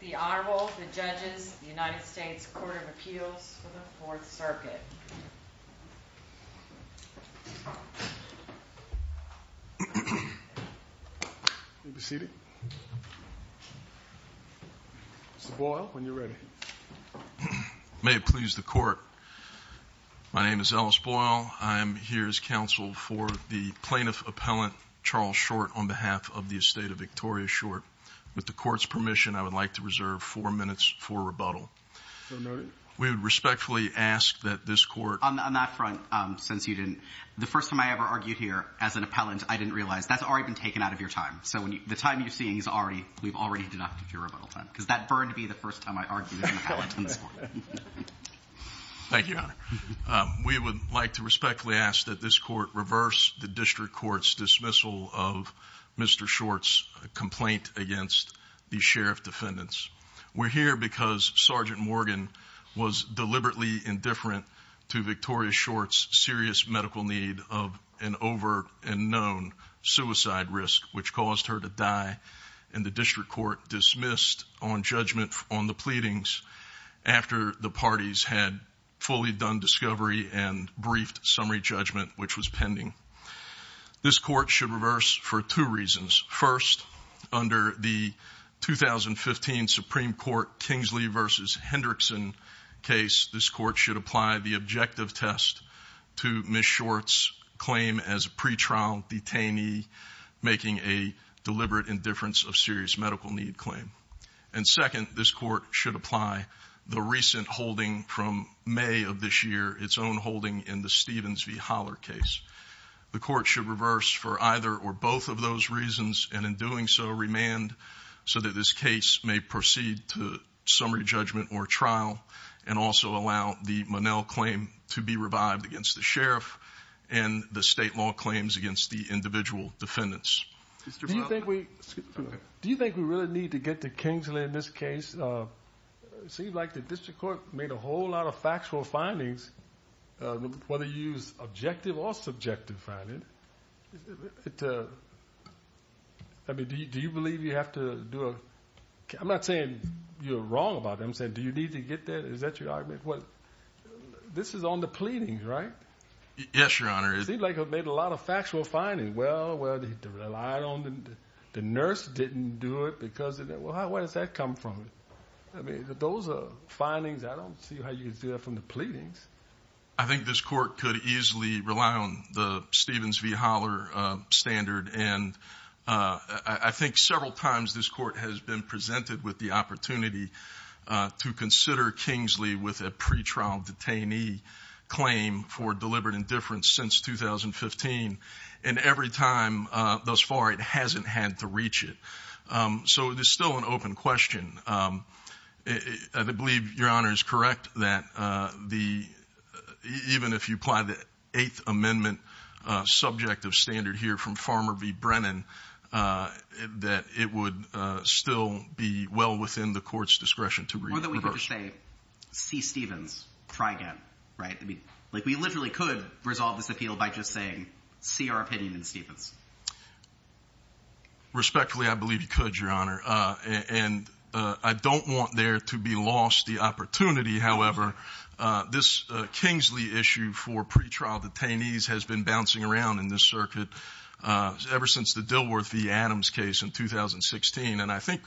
The Honorable, the Judges, the United States Court of Appeals for the Fourth Circuit. You may be seated. Mr. Boyle, when you're ready. May it please the Court. My name is Ellis Boyle. I am here as counsel for the Plaintiff Appellant Charles Short on behalf of the Estate of Victoria Short. With the Court's permission, I would like to reserve four minutes for rebuttal. We would respectfully ask that this Court... On that front, since you didn't, the first time I ever argued here as an appellant, I didn't realize that's already been taken out of your time. So the time you're seeing is already, we've already deducted your rebuttal time. Because that burned me the first time I argued as an appellant in this Court. Thank you, Your Honor. We would like to respectfully ask that this Court reverse the District Court's dismissal of Mr. Short's complaint against the Sheriff's defendants. We're here because Sergeant Morgan was deliberately indifferent to Victoria Short's serious medical need of an over and known suicide risk, which caused her to die. And the District Court dismissed on judgment on the pleadings after the parties had fully done discovery and briefed summary judgment, which was pending. This Court should reverse for two reasons. First, under the 2015 Supreme Court Kingsley v. Hendrickson case, this Court should apply the objective test to Ms. Short's claim as a pretrial detainee making a deliberate indifference of serious medical need claim. And second, this Court should apply the recent holding from May of this year, its own holding in the Stevens v. Holler case. The Court should reverse for either or both of those reasons, and in doing so, remand so that this case may proceed to summary judgment or trial, and also allow the Monell claim to be revived against the Sheriff and the state law claims against the individual defendants. Do you think we really need to get to Kingsley in this case? It seems like the District Court made a whole lot of factual findings, whether you use objective or subjective findings. I mean, do you believe you have to do a – I'm not saying you're wrong about it. I'm saying do you need to get there? Is that your argument? This is on the pleadings, right? Yes, Your Honor. It seems like it made a lot of factual findings. Well, they relied on – the nurse didn't do it because – where does that come from? I mean, those are findings. I don't see how you can see that from the pleadings. I think this Court could easily rely on the Stevens v. Holler standard, and I think several times this Court has been presented with the opportunity to consider Kingsley with a pretrial detainee claim for deliberate indifference since 2015, and every time thus far, it hasn't had to reach it. So it is still an open question. I believe Your Honor is correct that the – even if you apply the Eighth Amendment subject of standard here from Farmer v. Brennan, that it would still be well within the Court's discretion to reverse. Or that we could just say, see Stevens, try again, right? I mean, like we literally could resolve this appeal by just saying, see our opinion in Stevens. Respectfully, I believe you could, Your Honor, and I don't want there to be lost the opportunity. However, this Kingsley issue for pretrial detainees has been bouncing around in this circuit ever since the Dilworth v. Adams case in 2016, and I think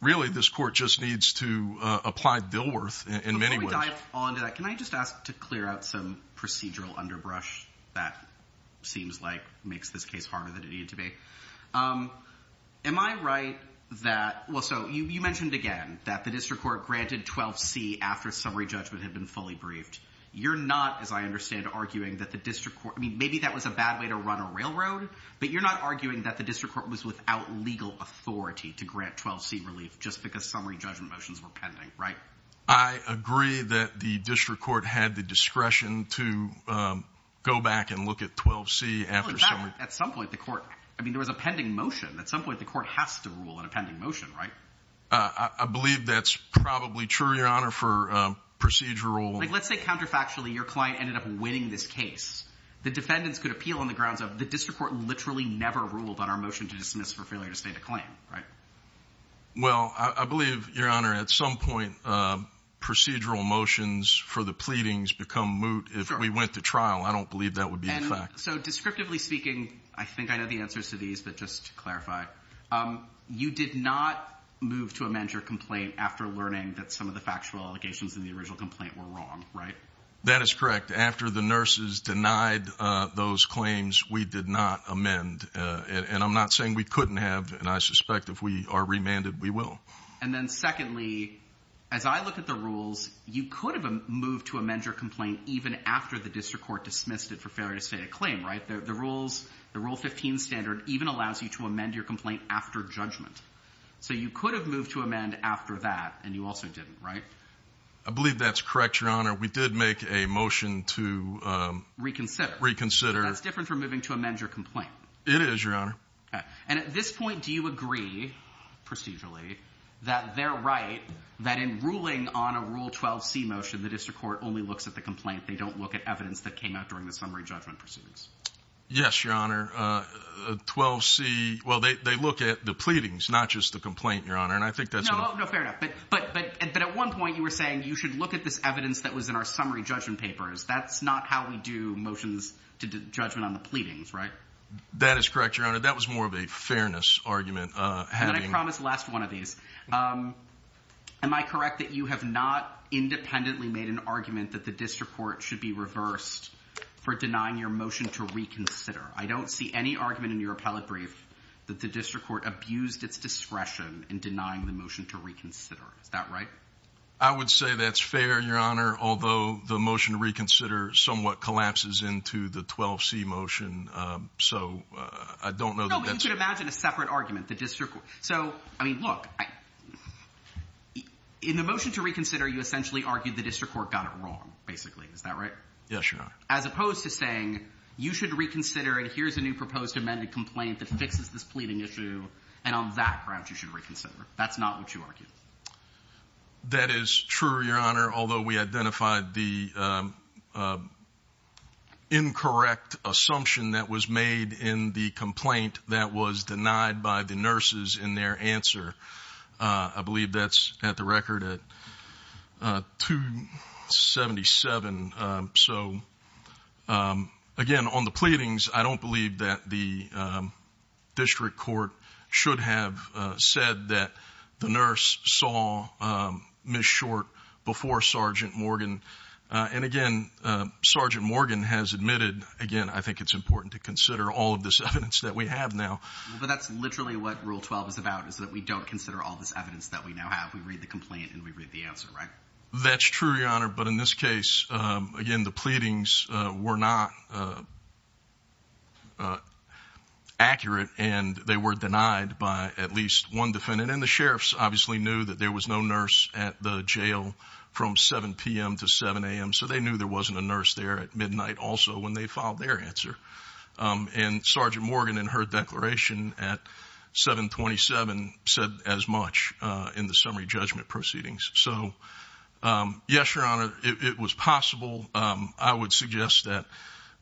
really this Court just needs to apply Dilworth in many ways. Can I just ask to clear out some procedural underbrush that seems like makes this case harder than it needed to be? Am I right that – well, so you mentioned again that the district court granted 12C after summary judgment had been fully briefed. You're not, as I understand, arguing that the district court – I mean, maybe that was a bad way to run a railroad, but you're not arguing that the district court was without legal authority to grant 12C relief just because summary judgment motions were pending, right? I agree that the district court had the discretion to go back and look at 12C after summary – Well, at some point, the court – I mean, there was a pending motion. At some point, the court has to rule on a pending motion, right? I believe that's probably true, Your Honor, for procedural – Like, let's say counterfactually your client ended up winning this case. The defendants could appeal on the grounds of the district court literally never ruled on our motion to dismiss for failure to state a claim, right? Well, I believe, Your Honor, at some point, procedural motions for the pleadings become moot if we went to trial. I don't believe that would be a fact. And so descriptively speaking, I think I know the answers to these, but just to clarify, you did not move to amend your complaint after learning that some of the factual allegations in the original complaint were wrong, right? That is correct. After the nurses denied those claims, we did not amend. And I'm not saying we couldn't have, and I suspect if we are remanded, we will. And then secondly, as I look at the rules, you could have moved to amend your complaint even after the district court dismissed it for failure to state a claim, right? The rules – the Rule 15 standard even allows you to amend your complaint after judgment. So you could have moved to amend after that, and you also didn't, right? I believe that's correct, Your Honor. We did make a motion to reconsider. That's different from moving to amend your complaint. It is, Your Honor. And at this point, do you agree procedurally that they're right, that in ruling on a Rule 12c motion, the district court only looks at the complaint? They don't look at evidence that came out during the summary judgment proceedings? Yes, Your Honor. 12c – well, they look at the pleadings, not just the complaint, Your Honor. No, fair enough. But at one point, you were saying you should look at this evidence that was in our summary judgment papers. That's not how we do motions to judgment on the pleadings, right? That is correct, Your Honor. That was more of a fairness argument. And then I promised last one of these. Am I correct that you have not independently made an argument that the district court should be reversed for denying your motion to reconsider? I don't see any argument in your appellate brief that the district court abused its discretion in denying the motion to reconsider. Is that right? I would say that's fair, Your Honor, although the motion to reconsider somewhat collapses into the 12c motion. So I don't know that that's – You should imagine a separate argument. The district – so, I mean, look, in the motion to reconsider, you essentially argued the district court got it wrong, basically. Is that right? Yes, Your Honor. As opposed to saying, you should reconsider it. Here's a new proposed amended complaint that fixes this pleading issue, and on that ground, you should reconsider. That's not what you argued. That is true, Your Honor, although we identified the incorrect assumption that was made in the complaint that was denied by the nurses in their answer. I believe that's at the record at 277. So, again, on the pleadings, I don't believe that the district court should have said that the nurse saw Ms. Short before Sergeant Morgan. And, again, Sergeant Morgan has admitted – again, I think it's important to consider all of this evidence that we have now. But that's literally what Rule 12 is about, is that we don't consider all this evidence that we now have. We read the complaint, and we read the answer, right? That's true, Your Honor, but in this case, again, the pleadings were not accurate, and they were denied by at least one defendant. And the sheriffs obviously knew that there was no nurse at the jail from 7 p.m. to 7 a.m., so they knew there wasn't a nurse there at midnight also when they filed their answer. And Sergeant Morgan, in her declaration at 727, said as much in the summary judgment proceedings. So, yes, Your Honor, it was possible. I would suggest that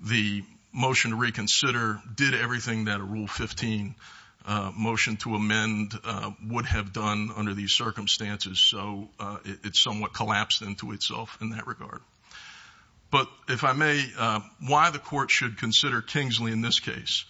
the motion to reconsider did everything that a Rule 15 motion to amend would have done under these circumstances. So it somewhat collapsed into itself in that regard. But, if I may, why the court should consider Kingsley in this case?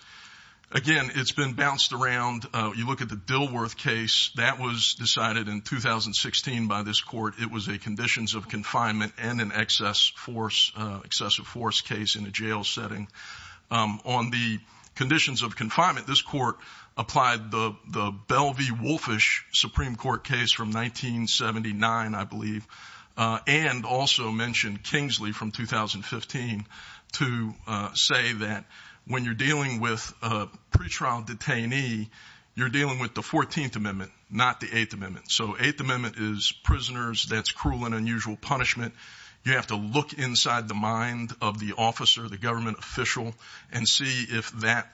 Again, it's been bounced around. You look at the Dilworth case. That was decided in 2016 by this court. It was a conditions of confinement and an excessive force case in a jail setting. On the conditions of confinement, this court applied the Belle v. Wolfish Supreme Court case from 1979, I believe, and also mentioned Kingsley from 2015 to say that when you're dealing with a pretrial detainee, you're dealing with the 14th Amendment, not the 8th Amendment. So 8th Amendment is prisoners. That's cruel and unusual punishment. You have to look inside the mind of the officer, the government official, and see if that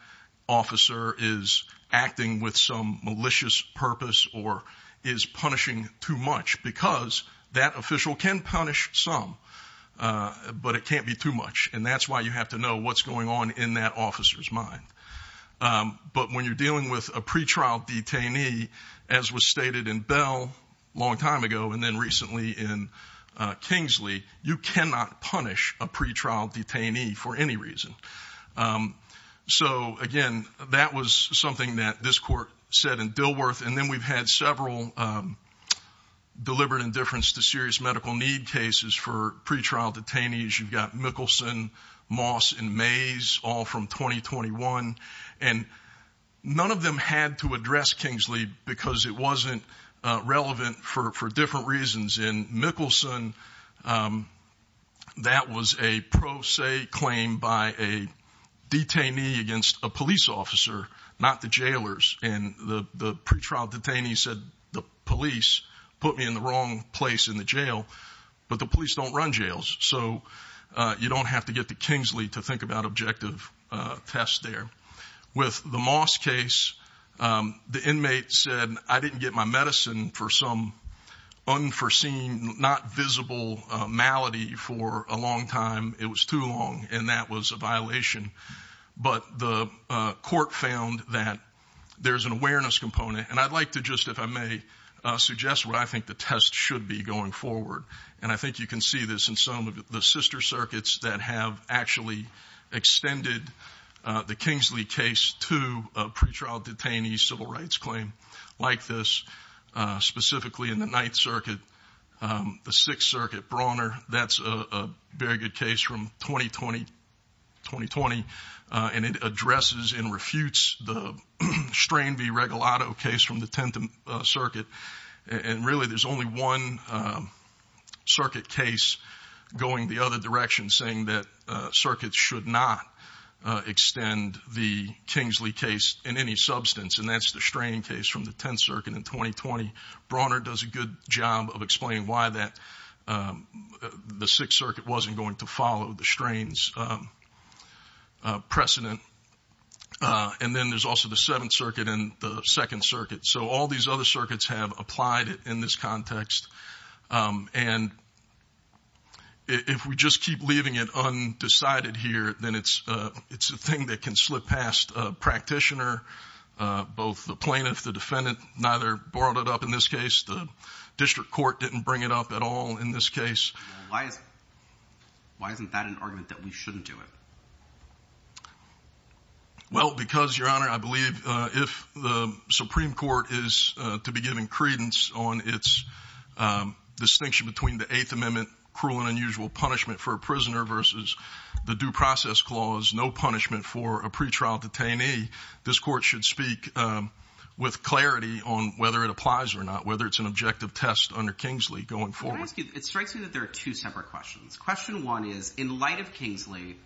officer is acting with some malicious purpose or is punishing too much because that official can punish some, but it can't be too much. And that's why you have to know what's going on in that officer's mind. But when you're dealing with a pretrial detainee, as was stated in Belle a long time ago and then recently in Kingsley, you cannot punish a pretrial detainee for any reason. So, again, that was something that this court said in Dilworth. And then we've had several deliberate indifference to serious medical need cases for pretrial detainees. You've got Mickelson, Moss, and Mays, all from 2021. And none of them had to address Kingsley because it wasn't relevant for different reasons. In Mickelson, that was a pro se claim by a detainee against a police officer, not the jailers. And the pretrial detainee said the police put me in the wrong place in the jail, but the police don't run jails. So you don't have to get to Kingsley to think about objective tests there. With the Moss case, the inmate said, I didn't get my medicine for some unforeseen, not visible malady for a long time. It was too long, and that was a violation. But the court found that there's an awareness component. And I'd like to just, if I may, suggest what I think the test should be going forward. And I think you can see this in some of the sister circuits that have actually extended the Kingsley case to a pretrial detainee civil rights claim like this. Specifically in the Ninth Circuit, the Sixth Circuit, Brawner, that's a very good case from 2020. And it addresses and refutes the Strain v. Regalado case from the Tenth Circuit. And really, there's only one circuit case going the other direction, saying that circuits should not extend the Kingsley case in any substance. And that's the strain case from the Tenth Circuit in 2020. Brawner does a good job of explaining why the Sixth Circuit wasn't going to follow the strains precedent. And then there's also the Seventh Circuit and the Second Circuit. So all these other circuits have applied it in this context. And if we just keep leaving it undecided here, then it's a thing that can slip past a practitioner. Both the plaintiff, the defendant, neither brought it up in this case. The district court didn't bring it up at all in this case. Why isn't that an argument that we shouldn't do it? Well, because, Your Honor, I believe if the Supreme Court is to be given credence on its distinction between the Eighth Amendment cruel and unusual punishment for a prisoner versus the Due Process Clause, no punishment for a pretrial detainee, this court should speak with clarity on whether it applies or not, whether it's an objective test under Kingsley going forward. It strikes me that there are two separate questions. Question one is, in light of Kingsley,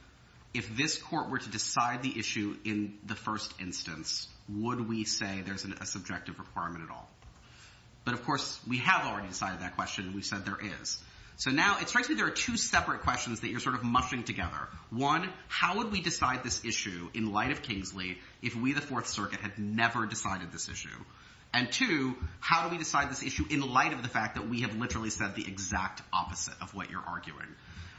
if this court were to decide the issue in the first instance, would we say there's a subjective requirement at all? But, of course, we have already decided that question. We said there is. So now it strikes me there are two separate questions that you're sort of mushing together. One, how would we decide this issue in light of Kingsley if we, the Fourth Circuit, had never decided this issue? And two, how do we decide this issue in light of the fact that we have literally said the exact opposite of what you're arguing?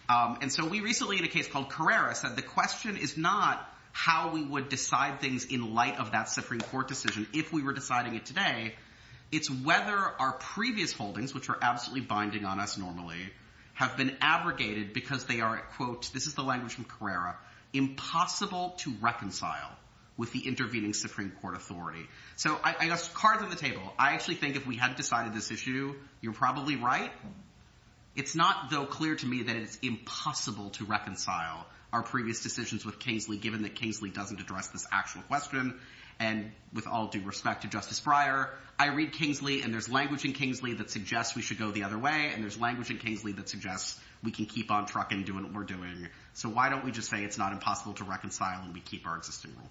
And so we recently, in a case called Carrera, said the question is not how we would decide things in light of that Supreme Court decision if we were deciding it today. It's whether our previous holdings, which are absolutely binding on us normally, have been abrogated because they are, quote, this is the language from Carrera, impossible to reconcile with the intervening Supreme Court authority. So I got cards on the table. I actually think if we hadn't decided this issue, you're probably right. It's not, though, clear to me that it's impossible to reconcile our previous decisions with Kingsley given that Kingsley doesn't address this actual question. And with all due respect to Justice Breyer, I read Kingsley, and there's language in Kingsley that suggests we should go the other way. And there's language in Kingsley that suggests we can keep on trucking, doing what we're doing. So why don't we just say it's not impossible to reconcile and we keep our existing rule?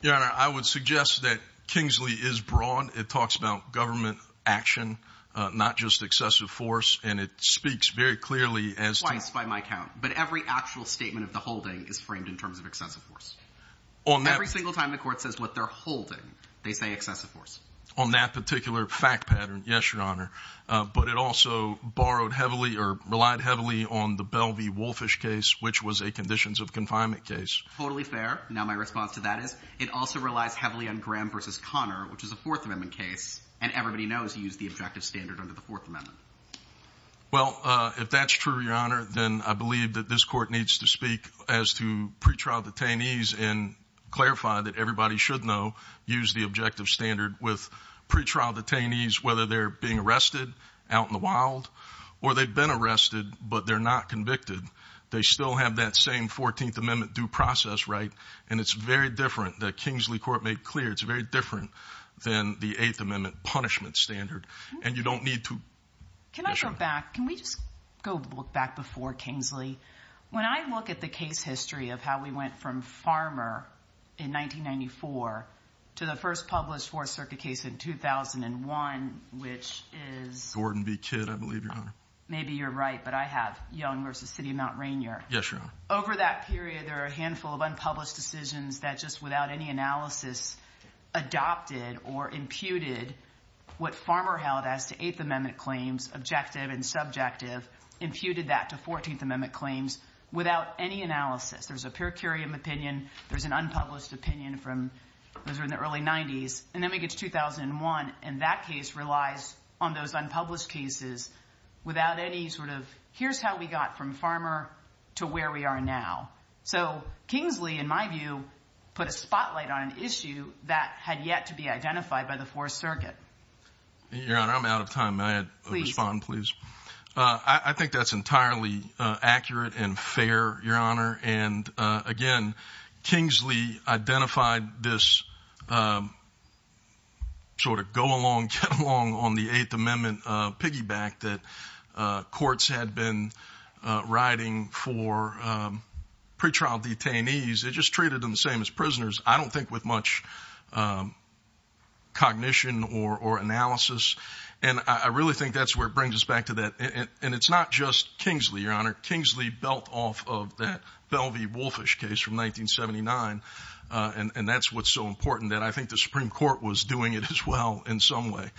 Your Honor, I would suggest that Kingsley is broad. It talks about government action, not just excessive force, and it speaks very clearly as to— Twice, by my count. But every actual statement of the holding is framed in terms of excessive force. Every single time the court says what they're holding, they say excessive force. On that particular fact pattern, yes, Your Honor. But it also borrowed heavily or relied heavily on the Belle v. Wolfish case, which was a conditions of confinement case. Totally fair. Now my response to that is it also relies heavily on Graham v. Conner, which is a Fourth Amendment case. And everybody knows he used the objective standard under the Fourth Amendment. Well, if that's true, Your Honor, then I believe that this court needs to speak as to pretrial detainees and clarify that everybody should know— use the objective standard with pretrial detainees, whether they're being arrested out in the wild or they've been arrested but they're not convicted. They still have that same Fourteenth Amendment due process, right? And it's very different. The Kingsley court made clear it's very different than the Eighth Amendment punishment standard. And you don't need to— Can I go back? Can we just go back before Kingsley? When I look at the case history of how we went from Farmer in 1994 to the first published Fourth Circuit case in 2001, which is— Gordon v. Kidd, I believe, Your Honor. Maybe you're right, but I have Young v. City of Mount Rainier. Yes, Your Honor. Over that period, there are a handful of unpublished decisions that just without any analysis adopted or imputed what Farmer held as to Eighth Amendment claims, objective and subjective, imputed that to Fourteenth Amendment claims without any analysis. There's a per curiam opinion. There's an unpublished opinion from—those are in the early 90s. And then we get to 2001, and that case relies on those unpublished cases without any sort of here's how we got from Farmer to where we are now. So Kingsley, in my view, put a spotlight on an issue that had yet to be identified by the Fourth Circuit. Your Honor, I'm out of time. May I respond, please? Please. I think that's entirely accurate and fair, Your Honor. And, again, Kingsley identified this sort of go along, get along on the Eighth Amendment piggyback that courts had been writing for pretrial detainees. It just treated them the same as prisoners, I don't think, with much cognition or analysis. And I really think that's where it brings us back to that. And it's not just Kingsley, Your Honor. Kingsley built off of that Belvey-Wolfish case from 1979, and that's what's so important that I think the Supreme Court was doing it as well in some way.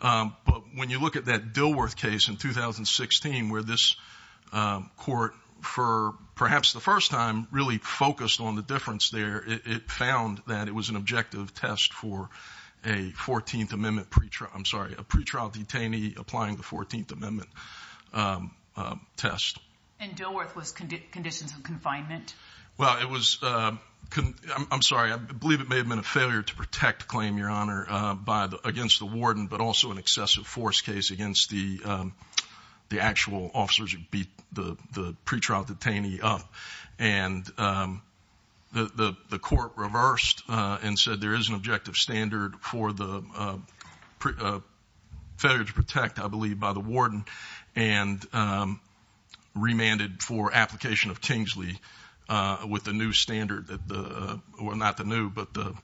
But when you look at that Dilworth case in 2016 where this court, for perhaps the first time, really focused on the difference there, it found that it was an objective test for a 14th Amendment pretrial—I'm sorry, a pretrial detainee applying the 14th Amendment test. And Dilworth was conditions of confinement? Well, it was—I'm sorry, I believe it may have been a failure to protect the claim, Your Honor, against the warden, but also an excessive force case against the actual officers who beat the pretrial detainee up. And the court reversed and said there is an objective standard for the failure to protect, I believe, by the warden and remanded for application of Kingsley with the new standard—well, not the new, but the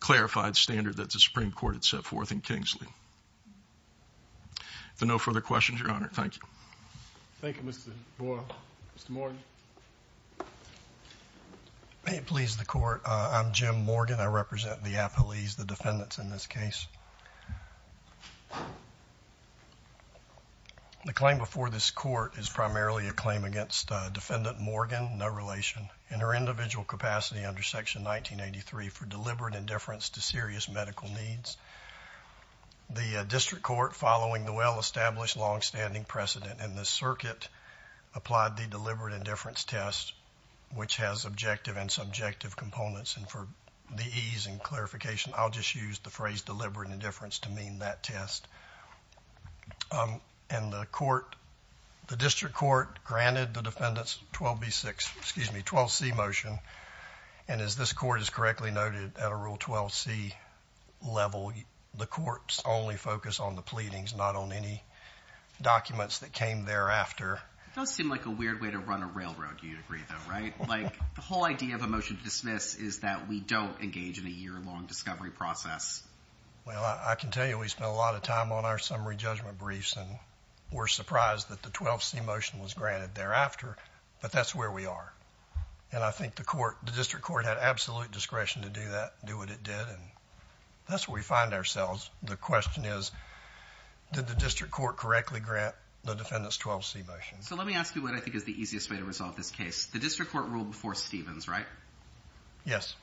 clarified standard that the Supreme Court had set forth in Kingsley. So no further questions, Your Honor. Thank you. Thank you, Mr. Boyle. Mr. Morgan. May it please the Court, I'm Jim Morgan. I represent the appellees, the defendants, in this case. The claim before this Court is primarily a claim against Defendant Morgan, no relation, in her individual capacity under Section 1983 for deliberate indifference to serious medical needs. The district court, following the well-established longstanding precedent in this circuit, applied the deliberate indifference test, which has objective and subjective components. And for the ease and clarification, I'll just use the phrase deliberate indifference to mean that test. And the court—the district court granted the defendants 12B6—excuse me, 12C motion. And as this Court has correctly noted, at a Rule 12C level, the courts only focus on the pleadings, not on any documents that came thereafter. It does seem like a weird way to run a railroad, to a degree, though, right? Like, the whole idea of a motion to dismiss is that we don't engage in a year-long discovery process. Well, I can tell you we spent a lot of time on our summary judgment briefs, and we're surprised that the 12C motion was granted thereafter, but that's where we are. And I think the court—the district court had absolute discretion to do that, do what it did, and that's where we find ourselves. The question is, did the district court correctly grant the defendants 12C motion? So let me ask you what I think is the easiest way to resolve this case. The district court ruled before Stevens, right? Yes.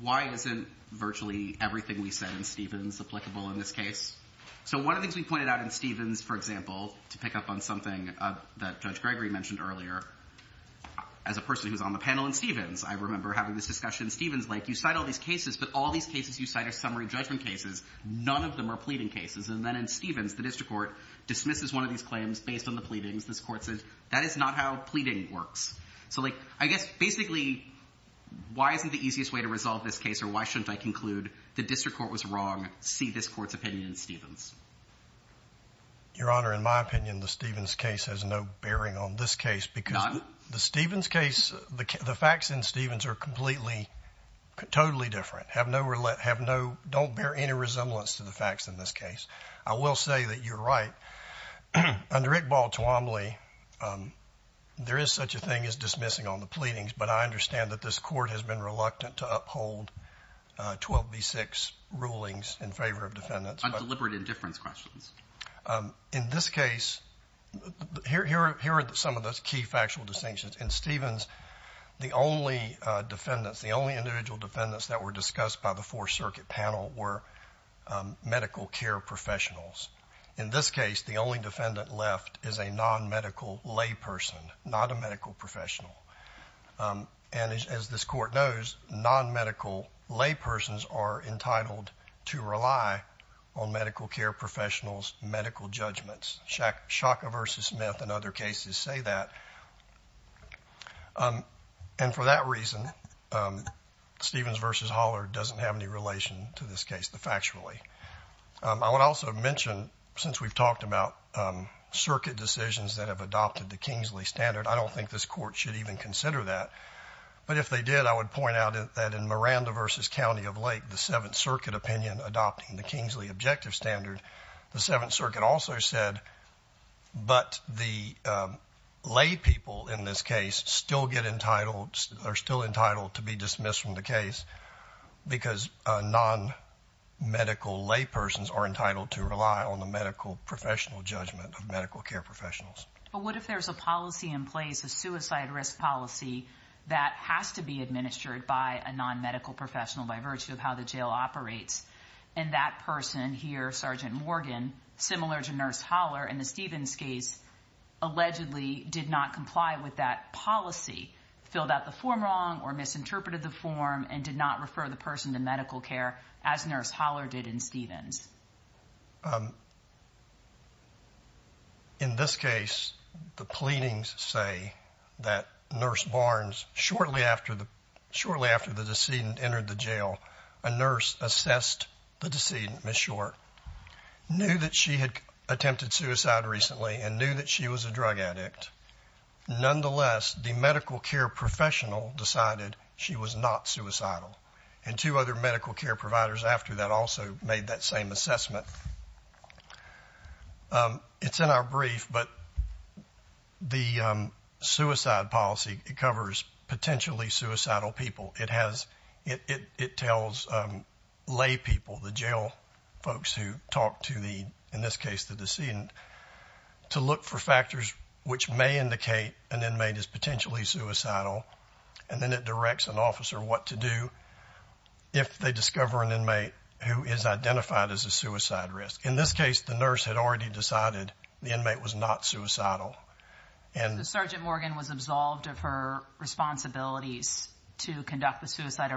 Why isn't virtually everything we said in Stevens applicable in this case? So one of the things we pointed out in Stevens, for example, to pick up on something that Judge Gregory mentioned earlier, as a person who's on the panel in Stevens, I remember having this discussion in Stevens, like, you cite all these cases, but all these cases you cite are summary judgment cases. None of them are pleading cases. And then in Stevens, the district court dismisses one of these claims based on the pleadings. This court says, that is not how pleading works. So, like, I guess basically, why isn't the easiest way to resolve this case, or why shouldn't I conclude the district court was wrong, see this court's opinion in Stevens? Your Honor, in my opinion, the Stevens case has no bearing on this case. None? Because the Stevens case, the facts in Stevens are completely, totally different, have no, don't bear any resemblance to the facts in this case. I will say that you're right. Under Iqbal Tuamli, there is such a thing as dismissing on the pleadings, but I understand that this court has been reluctant to uphold 12B6 rulings in favor of defendants. On deliberate indifference questions. In this case, here are some of the key factual distinctions. In Stevens, the only defendants, the only individual defendants that were discussed by the Fourth Circuit panel were medical care professionals. In this case, the only defendant left is a non-medical layperson, not a medical professional. And as this court knows, non-medical laypersons are entitled to rely on medical care professionals' medical judgments. Shaka v. Smith and other cases say that. And for that reason, Stevens v. Holler doesn't have any relation to this case factually. I would also mention, since we've talked about circuit decisions that have adopted the Kingsley standard, I don't think this court should even consider that. But if they did, I would point out that in Miranda v. County of Lake, the Seventh Circuit opinion adopting the Kingsley objective standard, the Seventh Circuit also said, but the laypeople in this case still get entitled, are still entitled to be dismissed from the case because non-medical laypersons are entitled to rely on the medical professional judgment of medical care professionals. But what if there's a policy in place, a suicide risk policy, that has to be administered by a non-medical professional by virtue of how the jail operates? And that person here, Sergeant Morgan, similar to Nurse Holler in the Stevens case, allegedly did not comply with that policy, filled out the form wrong or misinterpreted the form and did not refer the person to medical care as Nurse Holler did in Stevens. In this case, the pleadings say that Nurse Barnes, shortly after the decedent entered the jail, a nurse assessed the decedent, Miss Short, knew that she had attempted suicide recently and knew that she was a drug addict. Nonetheless, the medical care professional decided she was not suicidal, and two other medical care providers after that also made that same assessment. It's in our brief, but the suicide policy, it covers potentially suicidal people. It tells laypeople, the jail folks who talk to the, in this case, the decedent, to look for factors which may indicate an inmate is potentially suicidal, and then it directs an officer what to do if they discover an inmate who is identified as a suicide risk. In this case, the nurse had already decided the inmate was not suicidal. So Sergeant Morgan was absolved of her responsibilities to conduct the suicide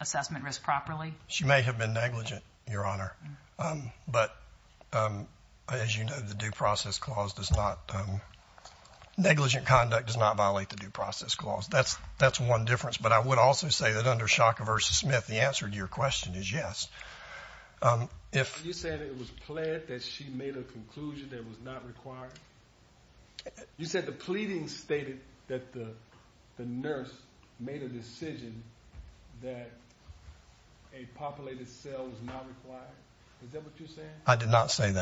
assessment risk properly? She may have been negligent, Your Honor, but as you know, the Due Process Clause does not, negligent conduct does not violate the Due Process Clause. That's one difference, but I would also say that under Shocker v. Smith, the answer to your question is yes. You're saying it was plead, that she made a conclusion that was not required? You said the pleading stated that the nurse made a decision that a populated cell was not required? Is that what you're saying?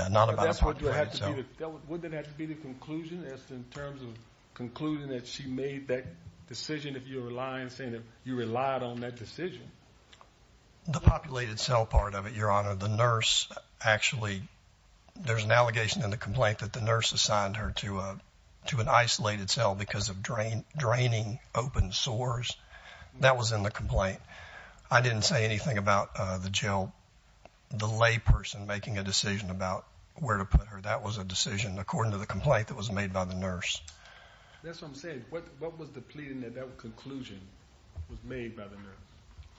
Would that have to be the conclusion in terms of concluding that she made that decision if you're relying, saying that you relied on that decision? The populated cell part of it, Your Honor. The nurse actually, there's an allegation in the complaint that the nurse assigned her to an isolated cell because of draining open sores. That was in the complaint. I didn't say anything about the jail, the layperson making a decision about where to put her. That was a decision according to the complaint that was made by the nurse. That's what I'm saying. What was the pleading that that conclusion was made by the nurse?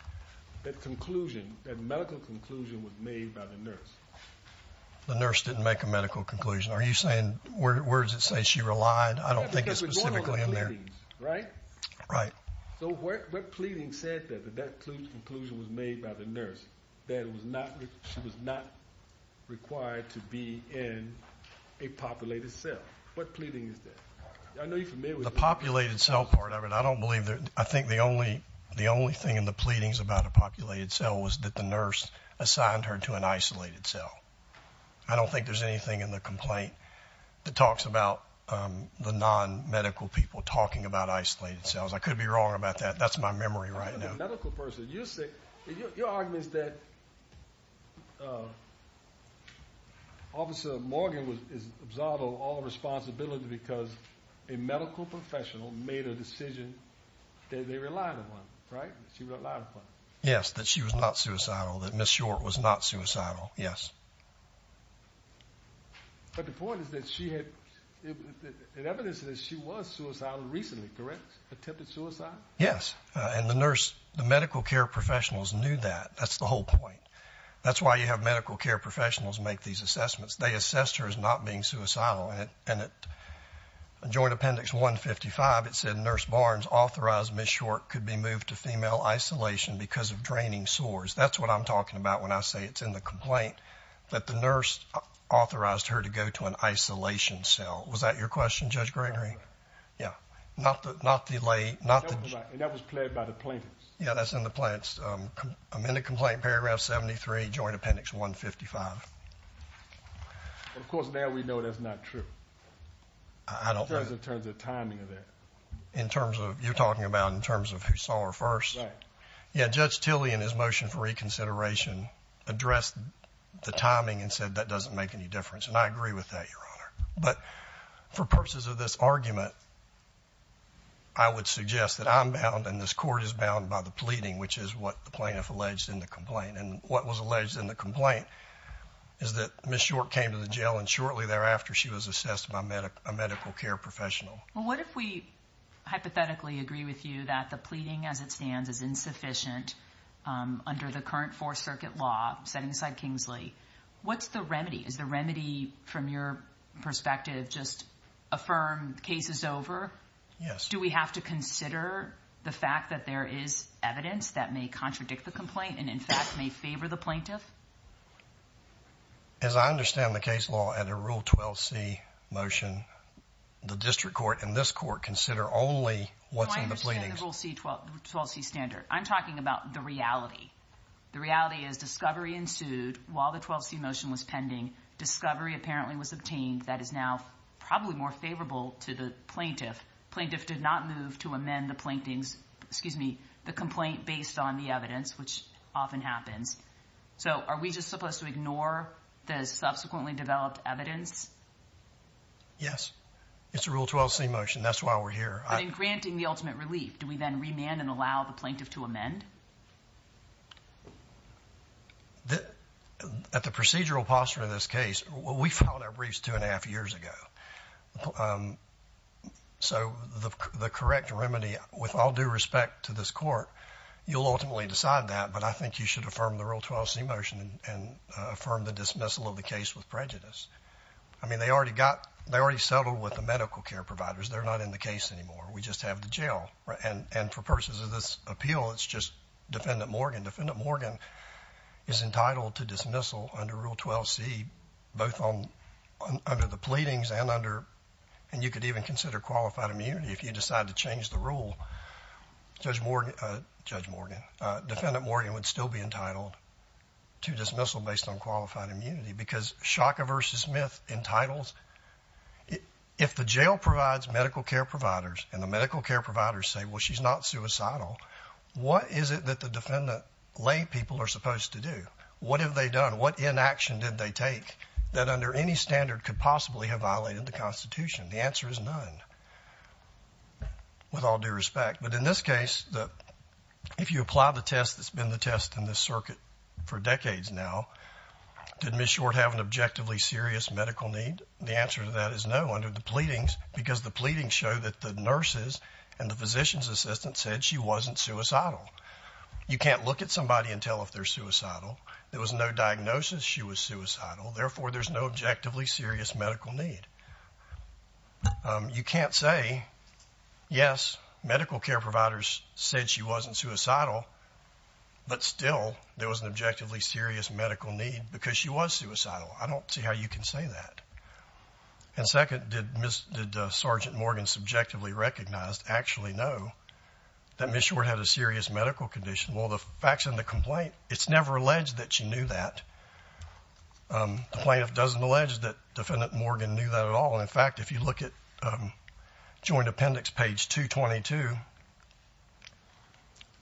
That conclusion, that medical conclusion was made by the nurse. The nurse didn't make a medical conclusion. Are you saying, where does it say she relied? I don't think it's specifically in there. Right? Right. So what pleading said that that conclusion was made by the nurse, that she was not required to be in a populated cell? What pleading is that? I know you're familiar with that. The populated cell part of it, I don't believe that. I think the only thing in the pleadings about a populated cell was that the nurse assigned her to an isolated cell. I don't think there's anything in the complaint that talks about the non-medical people talking about isolated cells. I could be wrong about that. That's my memory right now. The medical person, your argument is that Officer Morgan is absolved of all responsibility because a medical professional made a decision that they relied upon, right? She relied upon it. Yes, that she was not suicidal, that Ms. Short was not suicidal, yes. But the point is that she had evidence that she was suicidal recently, correct? Yes. And the nurse, the medical care professionals knew that. That's the whole point. That's why you have medical care professionals make these assessments. They assess her as not being suicidal. And at Joint Appendix 155, it said, Nurse Barnes authorized Ms. Short could be moved to female isolation because of draining sores. That's what I'm talking about when I say it's in the complaint, that the nurse authorized her to go to an isolation cell. Was that your question, Judge Gregory? Yeah. And that was pled by the plaintiffs. Yeah, that's in the plaintiffs. I'm in the complaint, paragraph 73, Joint Appendix 155. Of course, now we know that's not true in terms of timing of that. You're talking about in terms of who saw her first? Right. Yeah, Judge Tilley in his motion for reconsideration addressed the timing and said that doesn't make any difference. And I agree with that, Your Honor. But for purposes of this argument, I would suggest that I'm bound and this court is bound by the pleading, which is what the plaintiff alleged in the complaint. And what was alleged in the complaint is that Ms. Short came to the jail, and shortly thereafter she was assessed by a medical care professional. Well, what if we hypothetically agree with you that the pleading as it stands is insufficient under the current Fourth Circuit law setting aside Kingsley? What's the remedy? Is the remedy, from your perspective, just affirm the case is over? Yes. Do we have to consider the fact that there is evidence that may contradict the complaint and, in fact, may favor the plaintiff? As I understand the case law under Rule 12c motion, the district court and this court consider only what's in the pleadings. I understand the Rule 12c standard. I'm talking about the reality. The reality is discovery ensued while the 12c motion was pending. Discovery apparently was obtained that is now probably more favorable to the plaintiff. Plaintiff did not move to amend the complaint based on the evidence, which often happens. So are we just supposed to ignore the subsequently developed evidence? Yes. It's a Rule 12c motion. That's why we're here. But in granting the ultimate relief, do we then remand and allow the plaintiff to amend? At the procedural posture of this case, we filed our briefs two and a half years ago. So the correct remedy, with all due respect to this court, you'll ultimately decide that, but I think you should affirm the Rule 12c motion and affirm the dismissal of the case with prejudice. I mean, they already settled with the medical care providers. They're not in the case anymore. We just have the jail. And for purposes of this appeal, it's just Defendant Morgan. Defendant Morgan is entitled to dismissal under Rule 12c, both under the pleadings and under and you could even consider qualified immunity if you decide to change the rule, Judge Morgan. Defendant Morgan would still be entitled to dismissal based on qualified immunity because Shaka versus Smith entitles, if the jail provides medical care providers and the medical care providers say, well, she's not suicidal, what is it that the defendant lay people are supposed to do? What have they done? What inaction did they take that under any standard could possibly have violated the Constitution? The answer is none, with all due respect. But in this case, if you apply the test that's been the test in this circuit for decades now, did Ms. Short have an objectively serious medical need? The answer to that is no under the pleadings because the pleadings show that the nurses and the physician's assistant said she wasn't suicidal. You can't look at somebody and tell if they're suicidal. There was no diagnosis she was suicidal. Therefore, there's no objectively serious medical need. You can't say, yes, medical care providers said she wasn't suicidal, but still there was an objectively serious medical need because she was suicidal. I don't see how you can say that. And second, did Sergeant Morgan subjectively recognize, actually know, that Ms. Short had a serious medical condition? Well, the facts in the complaint, it's never alleged that she knew that. The plaintiff doesn't allege that Defendant Morgan knew that at all. In fact, if you look at Joint Appendix page 222,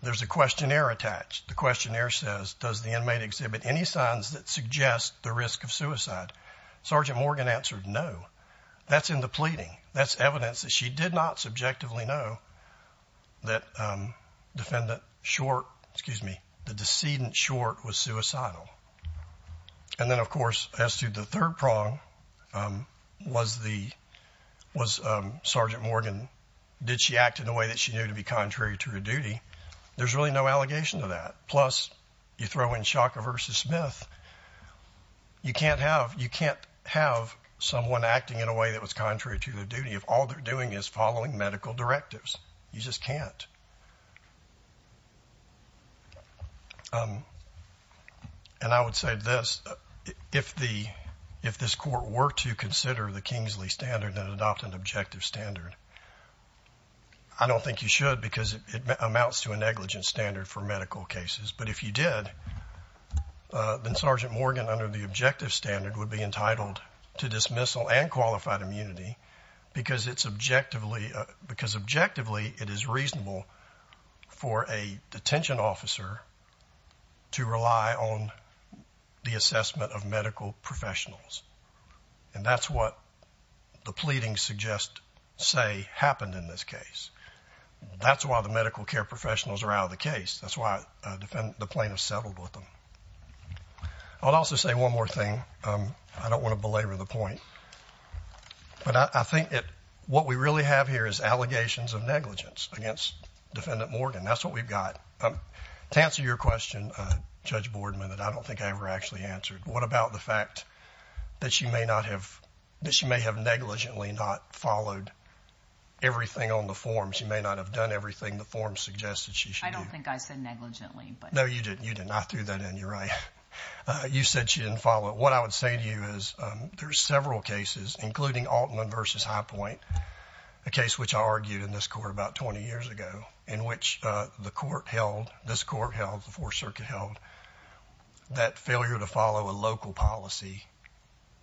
there's a questionnaire attached. The questionnaire says, does the inmate exhibit any signs that suggest the risk of suicide? Sergeant Morgan answered no. That's in the pleading. That's evidence that she did not subjectively know that Defendant Short, excuse me, the decedent Short was suicidal. And then, of course, as to the third prong, was Sergeant Morgan, did she act in a way that she knew to be contrary to her duty? There's really no allegation to that. Plus, you throw in Shocker versus Smith, you can't have someone acting in a way that was contrary to their duty if all they're doing is following medical directives. You just can't. And I would say this, if this court were to consider the Kingsley standard and adopt an objective standard, I don't think you should because it amounts to a negligent standard for medical cases. But if you did, then Sergeant Morgan under the objective standard would be entitled to dismissal and qualified immunity because objectively it is reasonable for a detention officer to rely on the assessment of medical professionals. And that's what the pleadings suggest say happened in this case. That's why the medical care professionals are out of the case. That's why the plaintiffs settled with them. I'll also say one more thing. I don't want to belabor the point, but I think what we really have here is allegations of negligence against Defendant Morgan. That's what we've got. To answer your question, Judge Boardman, that I don't think I ever actually answered, what about the fact that she may have negligently not followed everything on the form? She may not have done everything the form suggested she should do. I don't think I said negligently. No, you didn't. I threw that in. You're right. You said she didn't follow it. What I would say to you is there are several cases, including Altman versus Highpoint, a case which I argued in this court about 20 years ago, in which the court held, this court held, the Fourth Circuit held, that failure to follow a local policy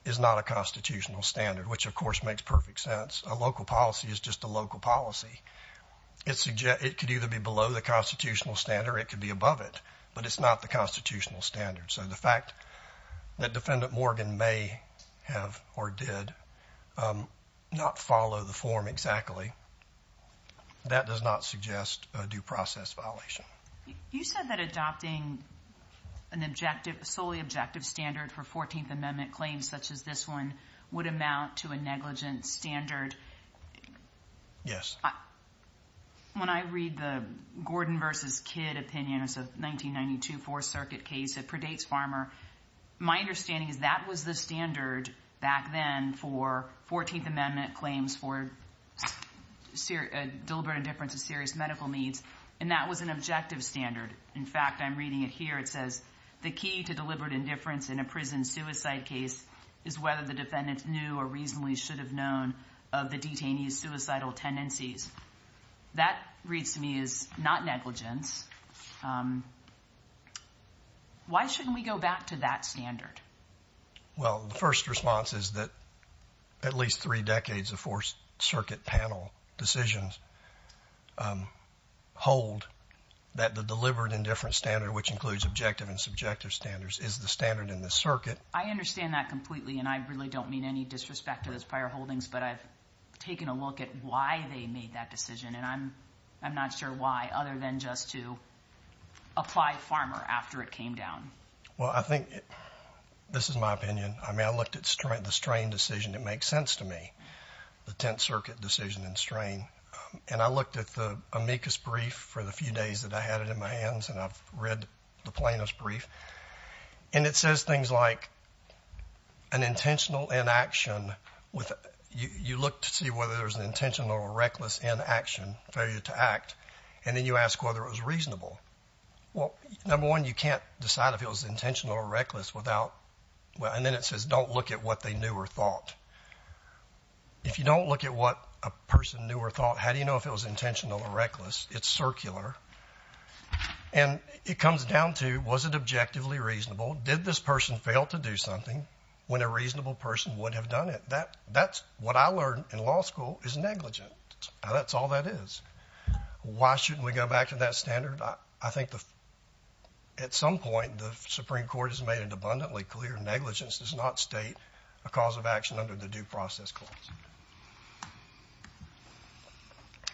is not a constitutional standard, which, of course, makes perfect sense. A local policy is just a local policy. It could either be below the constitutional standard or it could be above it, but it's not the constitutional standard. So the fact that Defendant Morgan may have or did not follow the form exactly, that does not suggest a due process violation. You said that adopting an objective, solely objective standard for 14th Amendment claims such as this one would amount to a negligent standard. Yes. When I read the Gordon versus Kidd opinion, it's a 1992 Fourth Circuit case, it predates Farmer. My understanding is that was the standard back then for 14th Amendment claims for deliberate indifference of serious medical needs, and that was an objective standard. In fact, I'm reading it here. It says, the key to deliberate indifference in a prison suicide case is whether the That reads to me as not negligence. Why shouldn't we go back to that standard? Well, the first response is that at least three decades of Fourth Circuit panel decisions hold that the deliberate indifference standard, which includes objective and subjective standards, is the standard in this circuit. I understand that completely, and I really don't mean any disrespect to those prior holdings, but I've taken a look at why they made that decision, and I'm not sure why other than just to apply Farmer after it came down. Well, I think this is my opinion. I mean, I looked at the Strain decision. It makes sense to me, the Tenth Circuit decision in Strain, and I looked at the amicus brief for the few days that I had it in my hands, and I've read the plaintiff's brief, and it says things like an intentional inaction, you look to see whether there's an intentional or reckless inaction, failure to act, and then you ask whether it was reasonable. Well, number one, you can't decide if it was intentional or reckless without, and then it says don't look at what they knew or thought. If you don't look at what a person knew or thought, how do you know if it was intentional or reckless? It's circular. And it comes down to was it objectively reasonable? Did this person fail to do something when a reasonable person would have done it? That's what I learned in law school is negligence. That's all that is. Why shouldn't we go back to that standard? I think at some point the Supreme Court has made it abundantly clear negligence does not state a cause of action under the Due Process Clause.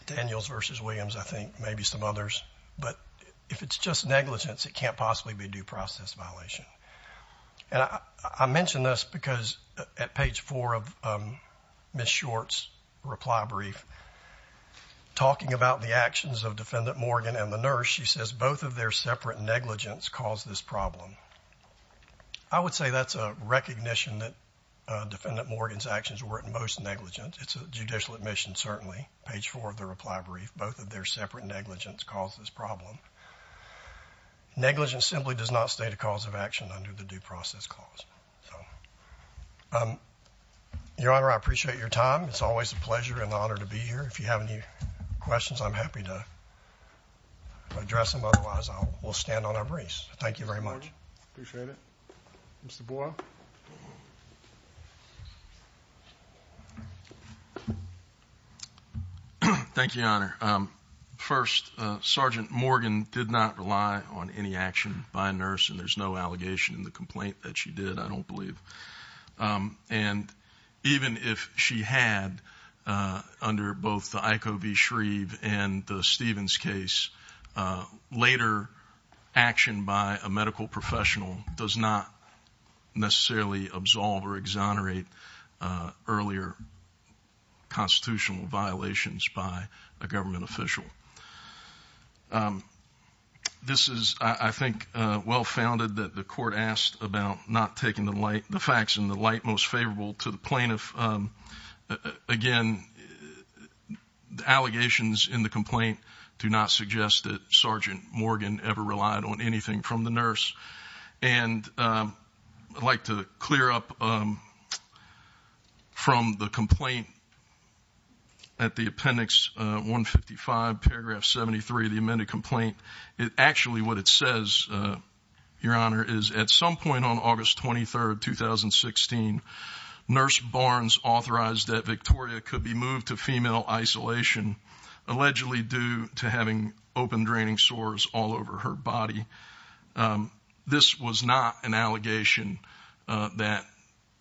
Daniels versus Williams, I think, maybe some others. But if it's just negligence, it can't possibly be a due process violation. And I mention this because at page four of Ms. Short's reply brief, talking about the actions of Defendant Morgan and the nurse, she says both of their separate negligence caused this problem. I would say that's a recognition that Defendant Morgan's actions were in most negligence. It's a judicial admission, certainly, page four of the reply brief. Both of their separate negligence caused this problem. Negligence simply does not state a cause of action under the Due Process Clause. Your Honor, I appreciate your time. It's always a pleasure and an honor to be here. If you have any questions, I'm happy to address them. Otherwise, we'll stand on our briefs. Thank you very much. Appreciate it. Mr. Boyle. Thank you, Your Honor. First, Sergeant Morgan did not rely on any action by a nurse, and there's no allegation in the complaint that she did, I don't believe. And even if she had, under both the IKO v. Shreve and the Stevens case, later action by a medical professional does not necessarily absolve or exonerate earlier constitutional violations by a government official. This is, I think, well-founded that the court asked about not taking the facts in the light most favorable to the plaintiff. Again, the allegations in the complaint do not suggest that Sergeant Morgan ever relied on anything from the nurse. And I'd like to clear up from the complaint at the appendix 155, paragraph 73, the amended complaint, actually what it says, Your Honor, is at some point on August 23, 2016, Nurse Barnes authorized that Victoria could be moved to female isolation, allegedly due to having open draining sores all over her body. This was not an allegation that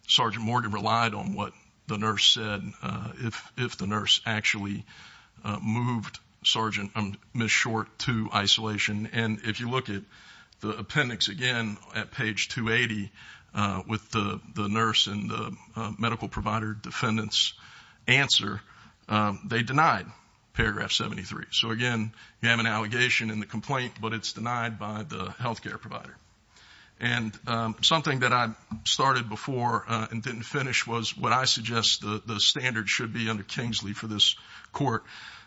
Sergeant Morgan relied on what the nurse said, if the nurse actually moved Ms. Short to isolation. And if you look at the appendix again at page 280 with the nurse and the medical provider defendant's answer, they denied paragraph 73. So, again, you have an allegation in the complaint, but it's denied by the health care provider. And something that I started before and didn't finish was what I suggest the standard should be under Kingsley for this court,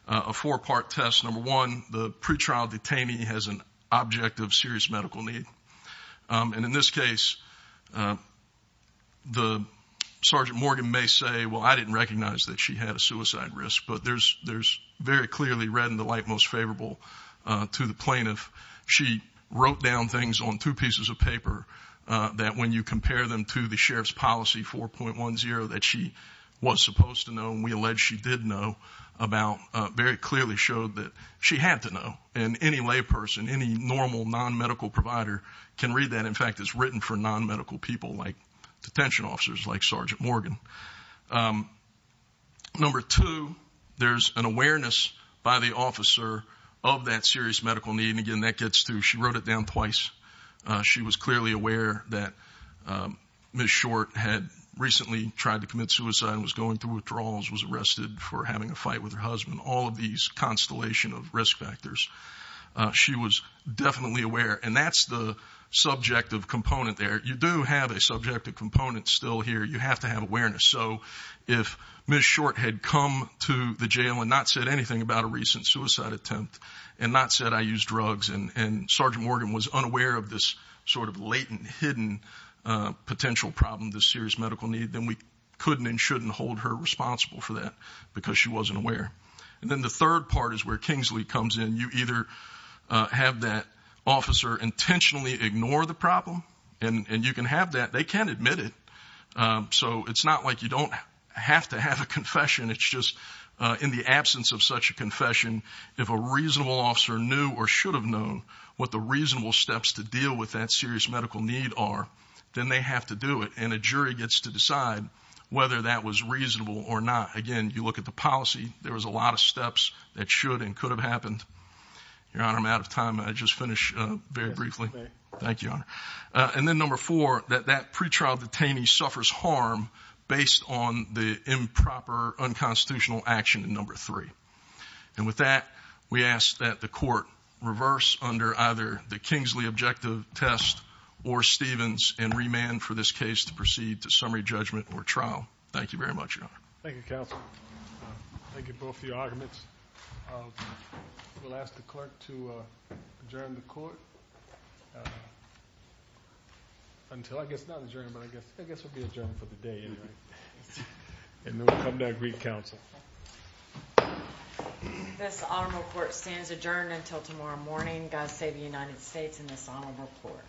a four-part test. Number one, the pretrial detainee has an object of serious medical need. And in this case, the Sergeant Morgan may say, well, I didn't recognize that she had a suicide risk. But there's very clearly read in the light most favorable to the plaintiff. She wrote down things on two pieces of paper that when you compare them to the sheriff's policy 4.10 that she was supposed to know and we allege she did know about very clearly showed that she had to know. And any layperson, any normal non-medical provider can read that. In fact, it's written for non-medical people like detention officers, like Sergeant Morgan. Number two, there's an awareness by the officer of that serious medical need. And, again, that gets through. She wrote it down twice. She was clearly aware that Ms. Short had recently tried to commit suicide and was going through withdrawals, was arrested for having a fight with her husband, all of these constellation of risk factors. She was definitely aware. And that's the subjective component there. You do have a subjective component still here. You have to have awareness. So if Ms. Short had come to the jail and not said anything about a recent suicide attempt and not said I use drugs and Sergeant Morgan was unaware of this sort of latent, hidden potential problem, this serious medical need, then we couldn't and shouldn't hold her responsible for that because she wasn't aware. And then the third part is where Kingsley comes in. You either have that officer intentionally ignore the problem, and you can have that. They can't admit it. So it's not like you don't have to have a confession. It's just in the absence of such a confession, if a reasonable officer knew or should have known what the reasonable steps to deal with that serious medical need are, then they have to do it. And a jury gets to decide whether that was reasonable or not. Again, you look at the policy. There was a lot of steps that should and could have happened. Your Honor, I'm out of time. I'll just finish very briefly. Thank you, Your Honor. And then number four, that that pretrial detainee suffers harm based on the improper, unconstitutional action in number three. And with that, we ask that the court reverse under either the Kingsley objective test or Stevens and remand for this case to proceed to summary judgment or trial. Thank you very much, Your Honor. Thank you, counsel. Thank you both for your arguments. We'll ask the clerk to adjourn the court until, I guess, not adjourn, but I guess we'll be adjourned for the day anyway. And then we'll come to agreed counsel. This honorable court stands adjourned until tomorrow morning. Thank God save the United States and this honorable court.